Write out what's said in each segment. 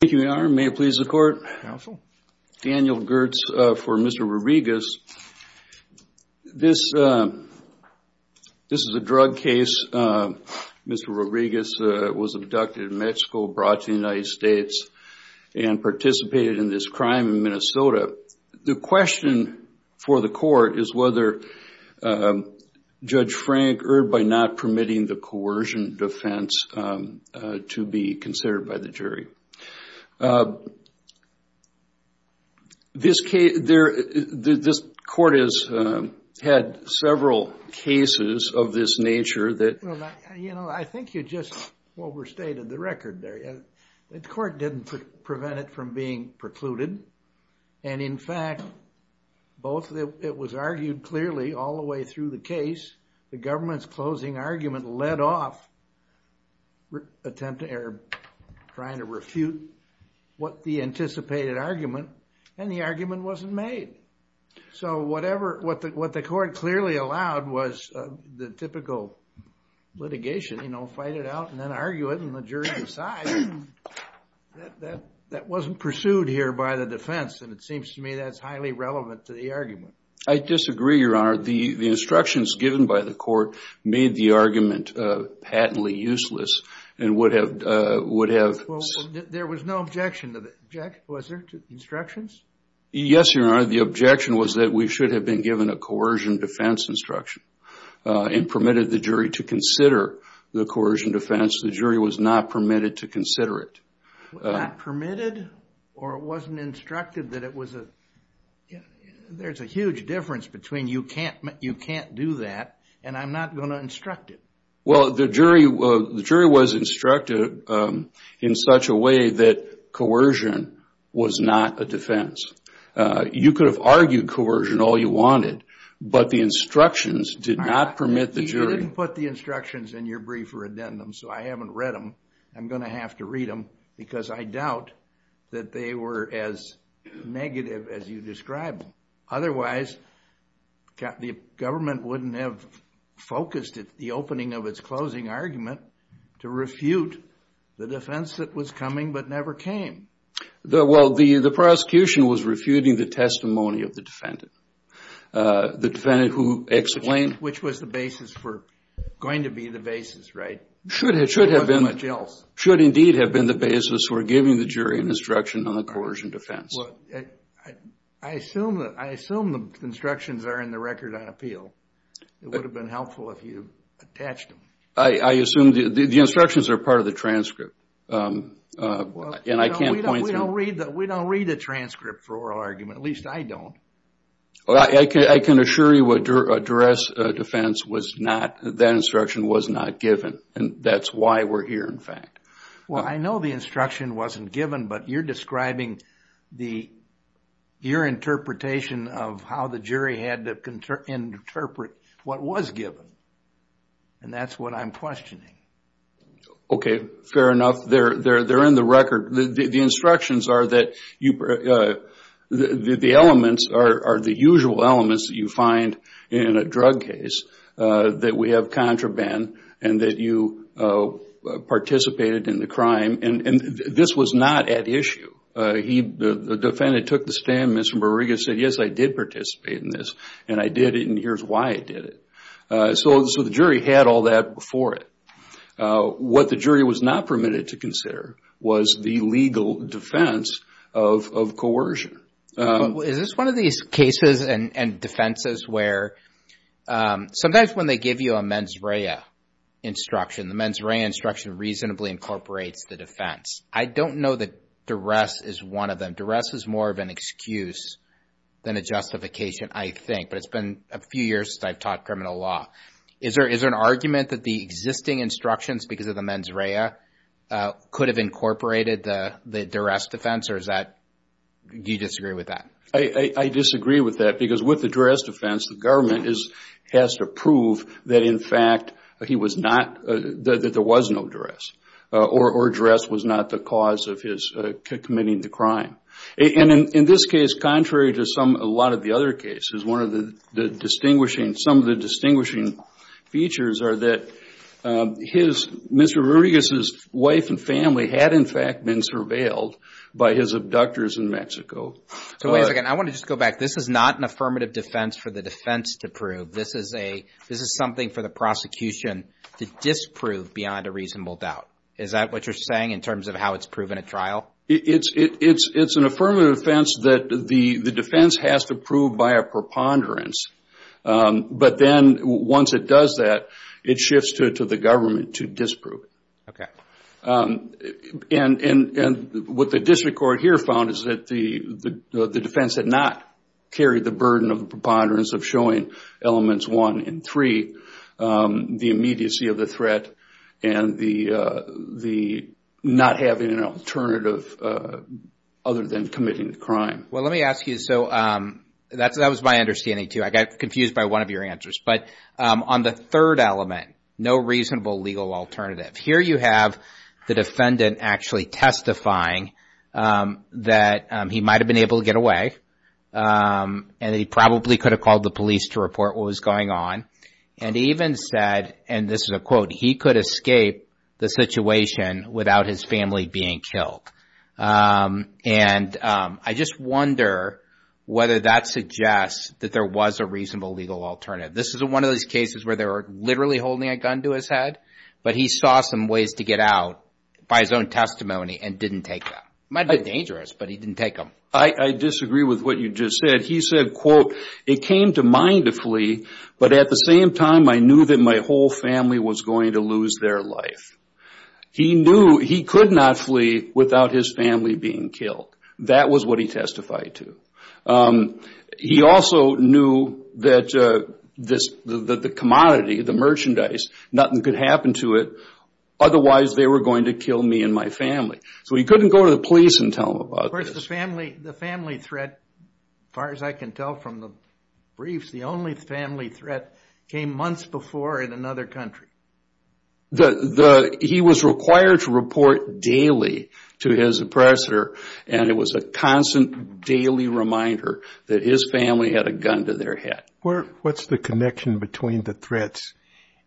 Thank you, Your Honor. May it please the Court? Counsel. Daniel Gertz for Mr. Rodriguez. This is a drug case. Mr. Rodriguez was abducted in Mexico, brought to the United States, and participated in this crime in Minnesota. The question for the Court is whether Judge Frank should be re-erred by not permitting the coercion defense to be considered by the jury. This Court has had several cases of this nature that... Judge Frank Rodriguez Well, you know, I think you just overstated the record there. The Court didn't prevent it from being precluded. And, in fact, both it was argued clearly all the way through the case, the government's closing argument led off trying to refute what the anticipated argument, and the argument wasn't made. So whatever, what the Court clearly allowed was the typical litigation, you know, fight it out and then argue it, and the jury decides that that wasn't pursued here by the defense. And it seems to me that's highly relevant to the argument. I disagree, Your Honor. The instructions given by the Court made the argument patently useless and would have... Well, there was no objection to it. Jack, was there? Instructions? Yes, Your Honor. The objection was that we should have been given a coercion defense instruction and permitted the jury to consider the coercion defense. The jury was not permitted to consider it. Not permitted? Or it wasn't instructed that it was a... There's a huge difference between you can't do that and I'm not going to instruct it. Well, the jury was instructed in such a way that coercion was not a defense. You could have argued coercion all you wanted, but the instructions did not permit the jury... You didn't put the instructions in your briefer addendum, so I haven't read them. I'm going to have to read them because I doubt that they were as negative as you described them. Otherwise, the government wouldn't have focused at the opening of its closing argument to refute the defense that was coming but never came. Well, the prosecution was refuting the testimony of the defendant. The defendant who explained... Which was the basis for... Going to be the basis, right? Should have been the basis for giving the jury an instruction on the coercion defense. I assume the instructions are in the record on appeal. It would have been helpful if you attached them. I assume the instructions are part of the transcript and I can't point to... We don't read the transcript for oral argument. At least I don't. I can assure you a duress defense was not... That instruction was not given, and that's why we're here, in fact. Well, I know the instruction wasn't given, but you're describing your interpretation of how the jury had to interpret what was given, and that's what I'm questioning. Okay, fair enough. They're in the record. The instructions are that the elements are the usual elements that you find in a drug case, that we have contraband, and that you participated in the crime, and this was not at issue. The defendant took the stand, Mr. Borrega said, yes, I did participate in this, and I did it, and here's why I did it. So the jury had all that before it. What the jury was not permitted to consider was the legal defense of coercion. Is this one of these cases and defenses where sometimes when they give you a mens rea instruction, the mens rea instruction reasonably incorporates the defense. I don't know that duress is one of them. Duress is more of an excuse than a justification, I think, but it's been a few years since I've taught criminal law. Is there an argument that the existing instructions because of the mens rea could have incorporated the duress defense, or do you disagree with that? I disagree with that because with the duress defense, the government has to prove that in fact there was no duress, or duress was not the cause of his committing the crime. In this case, contrary to a lot of the other cases, some of the distinguishing features are that Mr. Borrega's wife and family had in fact been surveilled by his abductors in Mexico. Wait a second. I want to just go back. This is not an affirmative defense for the defense to prove. This is something for the prosecution to disprove beyond a reasonable doubt. Is that what you're saying in terms of how it's proven at trial? It's an affirmative defense that the defense has to prove by a preponderance, but then once it does that, it shifts to the government to disprove it. And what the district court here found is that the defense had not carried the burden of preponderance of showing elements one and three, the immediacy of the threat, and the not having an alternative other than committing the crime. Well, let me ask you, so that was my understanding too. I got confused by one of your answers. But on the third element, no reasonable legal alternative. Here you have the defendant actually testifying that he might have been able to get away, and he probably could have called the police to report what was going on, and even said, and this is a quote, he could escape the situation without his family being killed. And I just wonder whether that suggests that there was a reasonable legal alternative. This is one of those cases where they were literally holding a gun to his head, but he saw some ways to get out by his own testimony and didn't take them. It might be dangerous, but he didn't take them. I disagree with what you just said. He said, quote, it came to mind to flee, but at the same time, I knew that my whole family was going to lose their life. He knew he could not flee without his family being killed. That was what he testified to. He also knew that the commodity, the merchandise, nothing could happen to it, otherwise they were going to kill me and my family. So he couldn't go to the police and tell them about this. Of course, the family threat, as far as I can tell from the briefs, the only family threat came months before in another country. He was required to report daily to his oppressor, and it was a constant daily reminder that his family had a gun to their head. What's the connection between the threats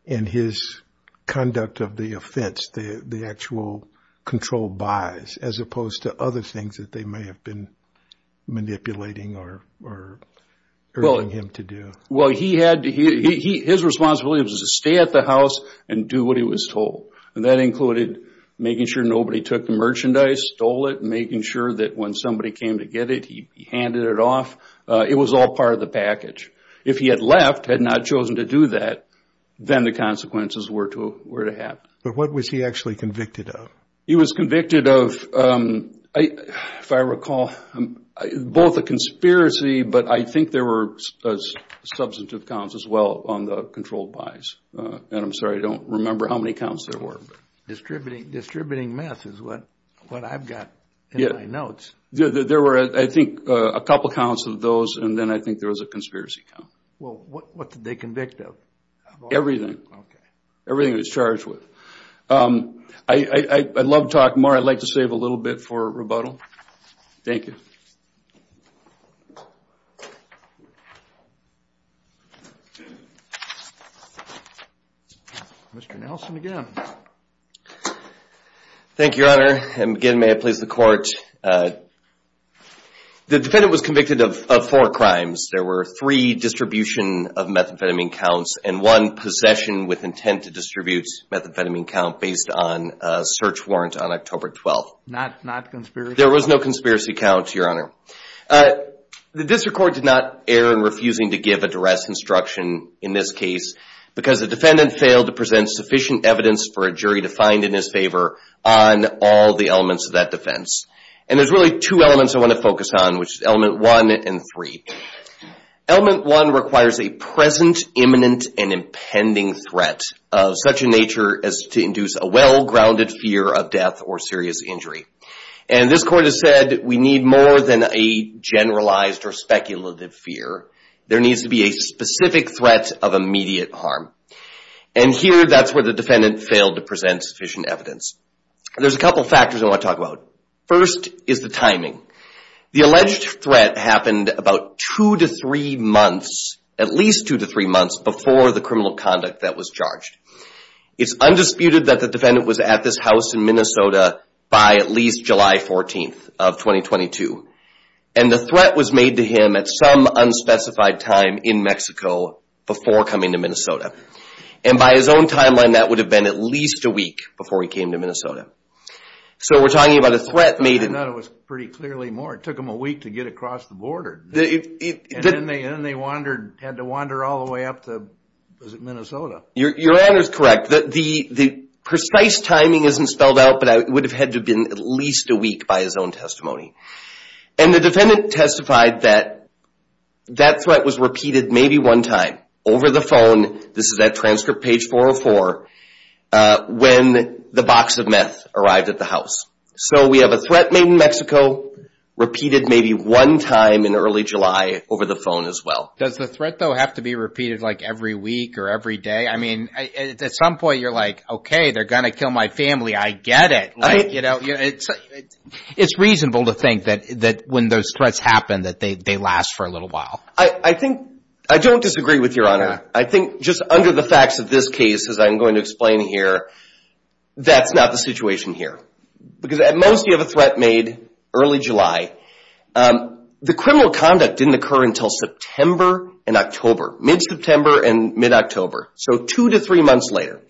and his conduct of the offense, the actual controlled buys, as opposed to other things that they may have been manipulating or urging him to do? Well, his responsibility was to stay at the house and do what he was told, and that included making sure nobody took the merchandise, stole it, making sure that when somebody came to get it, he handed it off. It was all part of the package. If he had left, had not chosen to do that, then the consequences were to happen. But what was he actually convicted of? He was convicted of, if I recall, both a conspiracy, but I think there were substantive counts as well on the controlled buys. And I'm sorry, I don't remember how many counts there were. Distributing meth is what I've got in my notes. There were, I think, a couple counts of those, and then I think there was a conspiracy count. Well, what did they convict of? Everything. Everything he was charged with. I'd love to talk more. I'd like to save a little bit for rebuttal. Thank you. Mr. Nelson again. Thank you, Your Honor, and again, may it please the Court. The defendant was convicted of four crimes. There were three distribution of methamphetamine counts and one possession with intent to distribute methamphetamine count based on a search warrant on October 12th. Not conspiracy? There was no conspiracy count, Your Honor. The District Court did not err in refusing to give a duress instruction in this case because the defendant failed to present sufficient evidence for a jury to find in his favor on all the elements of that defense. And there's really two elements I want to focus on, which is element one and three. Element one requires a present, imminent, and impending threat of such a nature as to induce a well-grounded fear of death or serious injury. And this Court has said we need more than a generalized or speculative fear. There needs to be a specific threat of immediate harm. And here, that's where the defendant failed to present sufficient evidence. There's a couple of factors I want to talk about. First is the timing. The alleged threat happened about two to three months, at least two to three months before the criminal conduct that was charged. It's undisputed that the defendant was at this house in Minnesota by at least July 14th of 2022. And the threat was made to him at some unspecified time in Mexico before coming to Minnesota. And by his own timeline, that would have been at least a week before he came to Minnesota. So we're talking about a threat made in... I thought it was pretty clearly more. It took him a week to get across the border. And then they had to wander all the way up to, was it Minnesota? Your honor is correct. The precise timing isn't spelled out, but it would have had to have been at least a week by his own testimony. And the defendant testified that that threat was repeated maybe one time over the phone, this is at transcript page 404, when the box of meth arrived at the house. So we have a threat made in Mexico, repeated maybe one time in early July over the phone as well. Does the threat, though, have to be repeated like every week or every day? I mean, at some point you're like, okay, they're going to kill my family. I get it. It's reasonable to think that when those threats happen that they last for a little while. I don't disagree with your honor. I think just under the facts of this case, as I'm going to explain here, that's not the situation here. Because at most you have a threat made early July. The criminal conduct didn't occur until September and October, mid-September and mid-October, so two to three months later.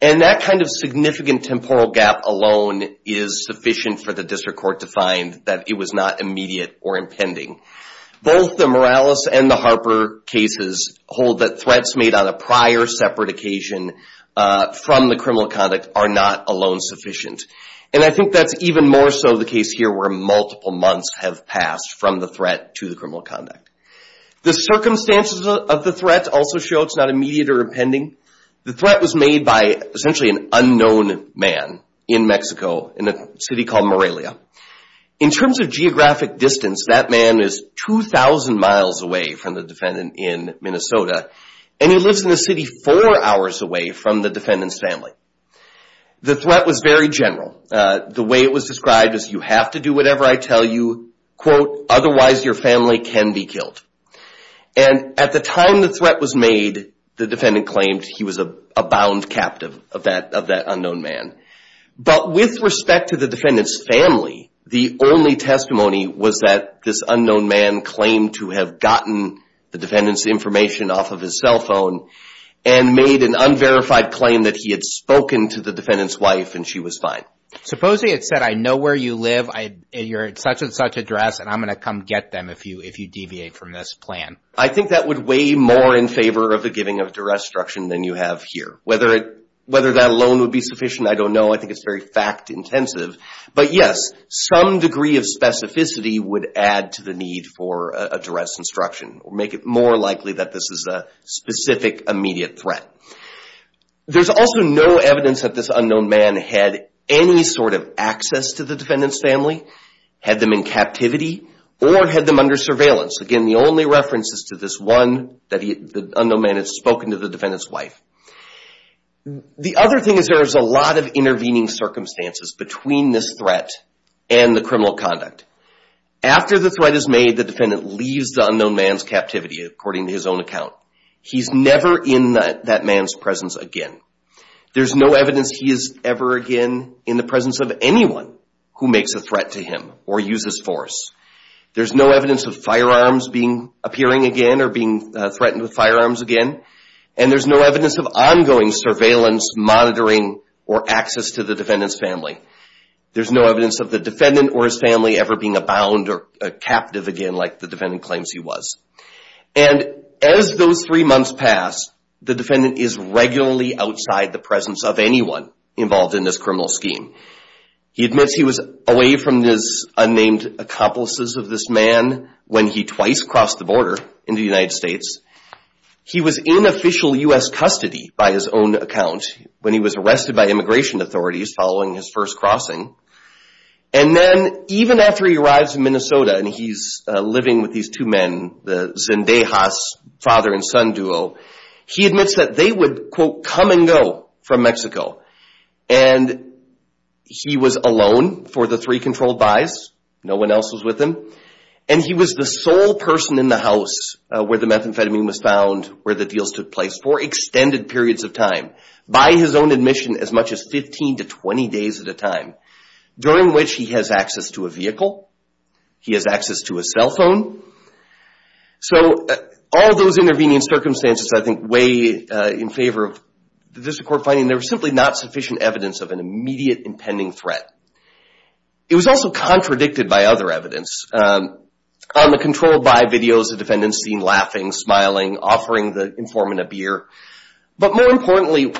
And that kind of significant temporal gap alone is sufficient for the district court to find that it was not immediate or impending. Both the Morales and the Harper cases hold that threats made on a prior separate occasion from the criminal conduct are not alone sufficient. And I think that's even more so the case here where multiple months have passed from the threat to the criminal conduct. The circumstances of the threat also show it's not immediate or impending. The threat was made by essentially an unknown man in Mexico, in a city called Morelia. In terms of geographic distance, that man is 2,000 miles away from the defendant in Minnesota, and he lives in the city four hours away from the defendant's family. The threat was very general. The way it was described was you have to do whatever I tell you, quote, otherwise your family can be killed. And at the time the threat was made, the defendant claimed he was a bound captive of that unknown man. But with respect to the defendant's family, the only testimony was that this unknown man claimed to have gotten the defendant's information off of his cell phone and made an unverified claim that he had spoken to the defendant's wife and she was fine. Supposing it said, I know where you live, you're at such-and-such address and I'm going to come get them if you deviate from this plan. I think that would weigh more in favor of the giving of duress instruction than you have here. Whether that alone would be sufficient, I don't know. I think it's very fact intensive. But, yes, some degree of specificity would add to the need for a duress instruction or make it more likely that this is a specific immediate threat. There's also no evidence that this unknown man had any sort of access to the defendant's family, had them in captivity, or had them under surveillance. Again, the only reference is to this one, that the unknown man had spoken to the defendant's wife. The other thing is there is a lot of intervening circumstances between this threat and the criminal conduct. After the threat is made, the defendant leaves the unknown man's captivity according to his own account. He's never in that man's presence again. There's no evidence he is ever again in the presence of anyone who makes a threat to him or uses force. There's no evidence of firearms appearing again or being threatened with firearms again. And there's no evidence of ongoing surveillance, monitoring, or access to the defendant's family. There's no evidence of the defendant or his family ever being abound or captive again like the defendant claims he was. And as those three months pass, the defendant is regularly outside the presence of anyone involved in this criminal scheme. He admits he was away from his unnamed accomplices of this man when he twice crossed the border into the United States. He was in official U.S. custody by his own account when he was arrested by immigration authorities following his first crossing. And then even after he arrives in Minnesota and he's living with these two men, the Zendejas, father and son duo, he admits that they would, quote, come and go from Mexico. And he was alone for the three controlled buys. No one else was with him. And he was the sole person in the house where the methamphetamine was found, where the deals took place for extended periods of time, by his own admission as much as 15 to 20 days at a time, during which he has access to a vehicle. He has access to a cell phone. So all those intervening circumstances, I think, weigh in favor of the District Court finding there was simply not sufficient evidence of an immediate impending threat. It was also contradicted by other evidence. On the controlled buy videos, the defendant is seen laughing, smiling, offering the informant a beer. But more importantly,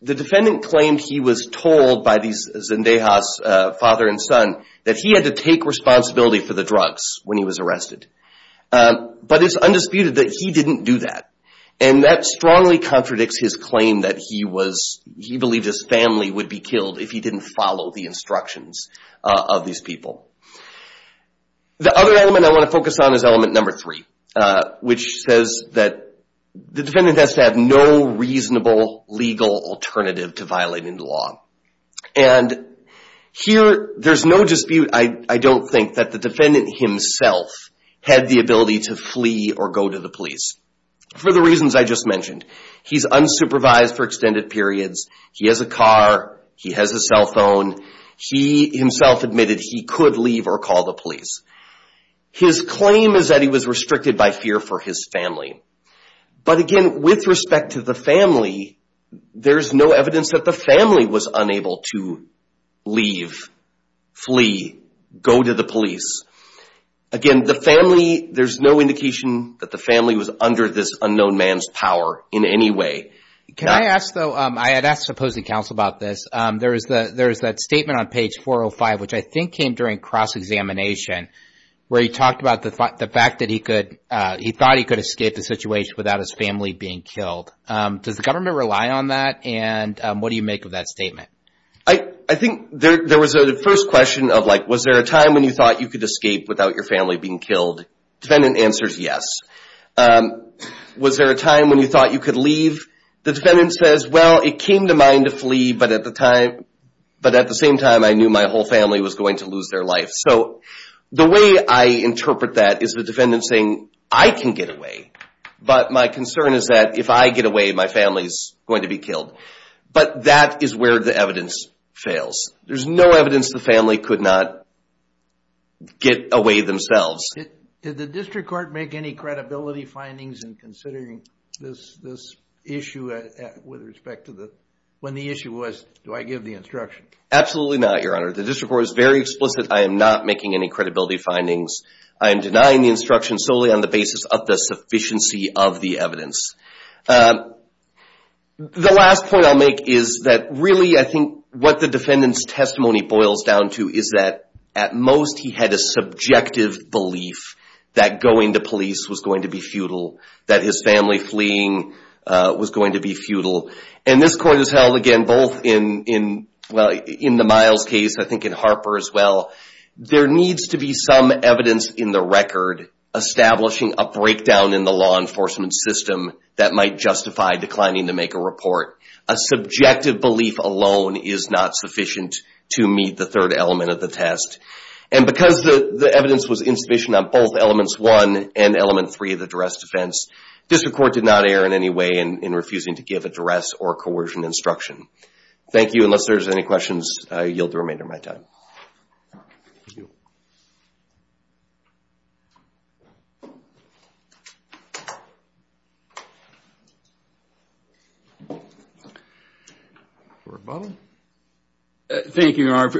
the defendant claimed he was told by these Zendejas, father and son, that he had to take responsibility for the drugs when he was But it's undisputed that he didn't do that. And that strongly contradicts his claim that he was, he believed his family would be killed if he didn't follow the instructions of these people. The other element I want to focus on is element number three, which says that the defendant has to have no reasonable legal alternative to violating the law. And here there's no dispute, I don't think, that the defendant himself had the ability to flee or go to the police, for the reasons I just mentioned. He's unsupervised for extended periods. He has a car. He has a cell phone. He himself admitted he could leave or call the police. His claim is that he was restricted by fear for his family. But again, with respect to the family, there's no evidence that the family was unable to leave, flee, go to the police. Again, the family, there's no indication that the family was under this unknown man's power in any way. Can I ask, though, I had asked opposing counsel about this. There is that statement on page 405, which I think came during cross-examination, where he talked about the fact that he could, he thought he could escape the situation without his family being killed. Does the government rely on that? And what do you make of that statement? I think there was a first question of, like, was there a time when you thought you could escape without your family being killed? The defendant answers yes. Was there a time when you thought you could leave? The defendant says, well, it came to mind to flee, but at the same time I knew my whole family was going to lose their life. So the way I interpret that is the defendant saying, I can get away. But my concern is that if I get away, my family's going to be killed. But that is where the evidence fails. There's no evidence the family could not get away themselves. Did the district court make any credibility findings in considering this issue with respect to the, when the issue was, do I give the instruction? Absolutely not, Your Honor. The district court is very explicit. I am not making any credibility findings. I am denying the instruction solely on the basis of the sufficiency of the evidence. The last point I'll make is that, really, I think what the defendant's testimony boils down to is that, at most, he had a subjective belief that going to police was going to be futile, that his family fleeing was going to be futile. And this court has held, again, both in, well, in the Miles case, I think in Harper as well, there needs to be some evidence in the record establishing a breakdown in the law enforcement system that might justify declining to make a report. A subjective belief alone is not sufficient to meet the third element of the test. And because the evidence was insufficient on both elements one and element three of the duress defense, district court did not err in any way in refusing to give a duress or coercion instruction. Thank you. Unless there's any questions, I yield the remainder of my time. Thank you. Thank you, Your Honor.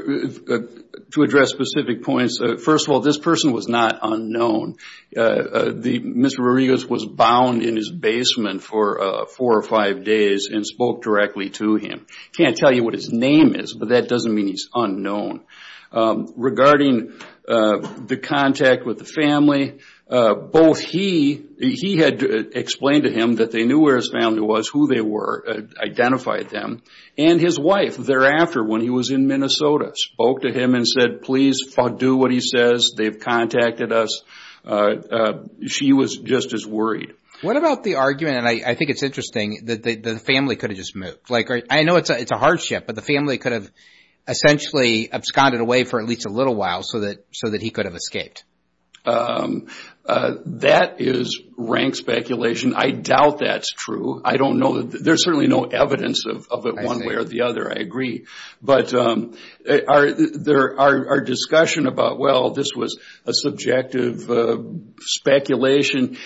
To address specific points, first of all, this person was not unknown. Mr. Rodriguez was bound in his basement for four or five days and spoke directly to him. I can't tell you what his name is, but that doesn't mean he's unknown. Regarding the contact with the family, both he had explained to him that they knew where his family was, who they were, identified them and his wife thereafter when he was in Minnesota spoke to him and said, please do what he says. They've contacted us. She was just as worried. What about the argument, and I think it's interesting, that the family could have just moved. I know it's a hardship, but the family could have essentially absconded away for at least a little while so that he could have escaped. That is rank speculation. I doubt that's true. I don't know. There's certainly no evidence of it one way or the other. I agree. But our discussion about, well, this was a subjective speculation.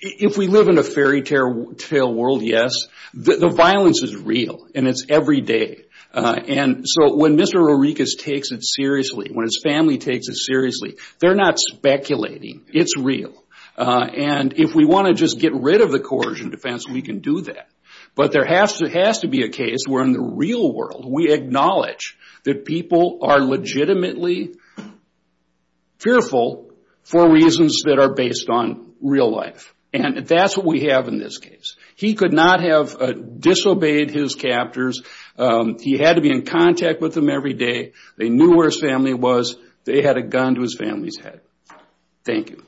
If we live in a fairytale world, yes. The violence is real, and it's every day. So when Mr. Rorikus takes it seriously, when his family takes it seriously, they're not speculating. It's real. If we want to just get rid of the coercion defense, we can do that. But there has to be a case where in the real world we acknowledge that people are legitimately fearful for reasons that are based on real life. That's what we have in this case. He could not have disobeyed his captors. He had to be in contact with them every day. They knew where his family was. They had a gun to his family's head. Thank you.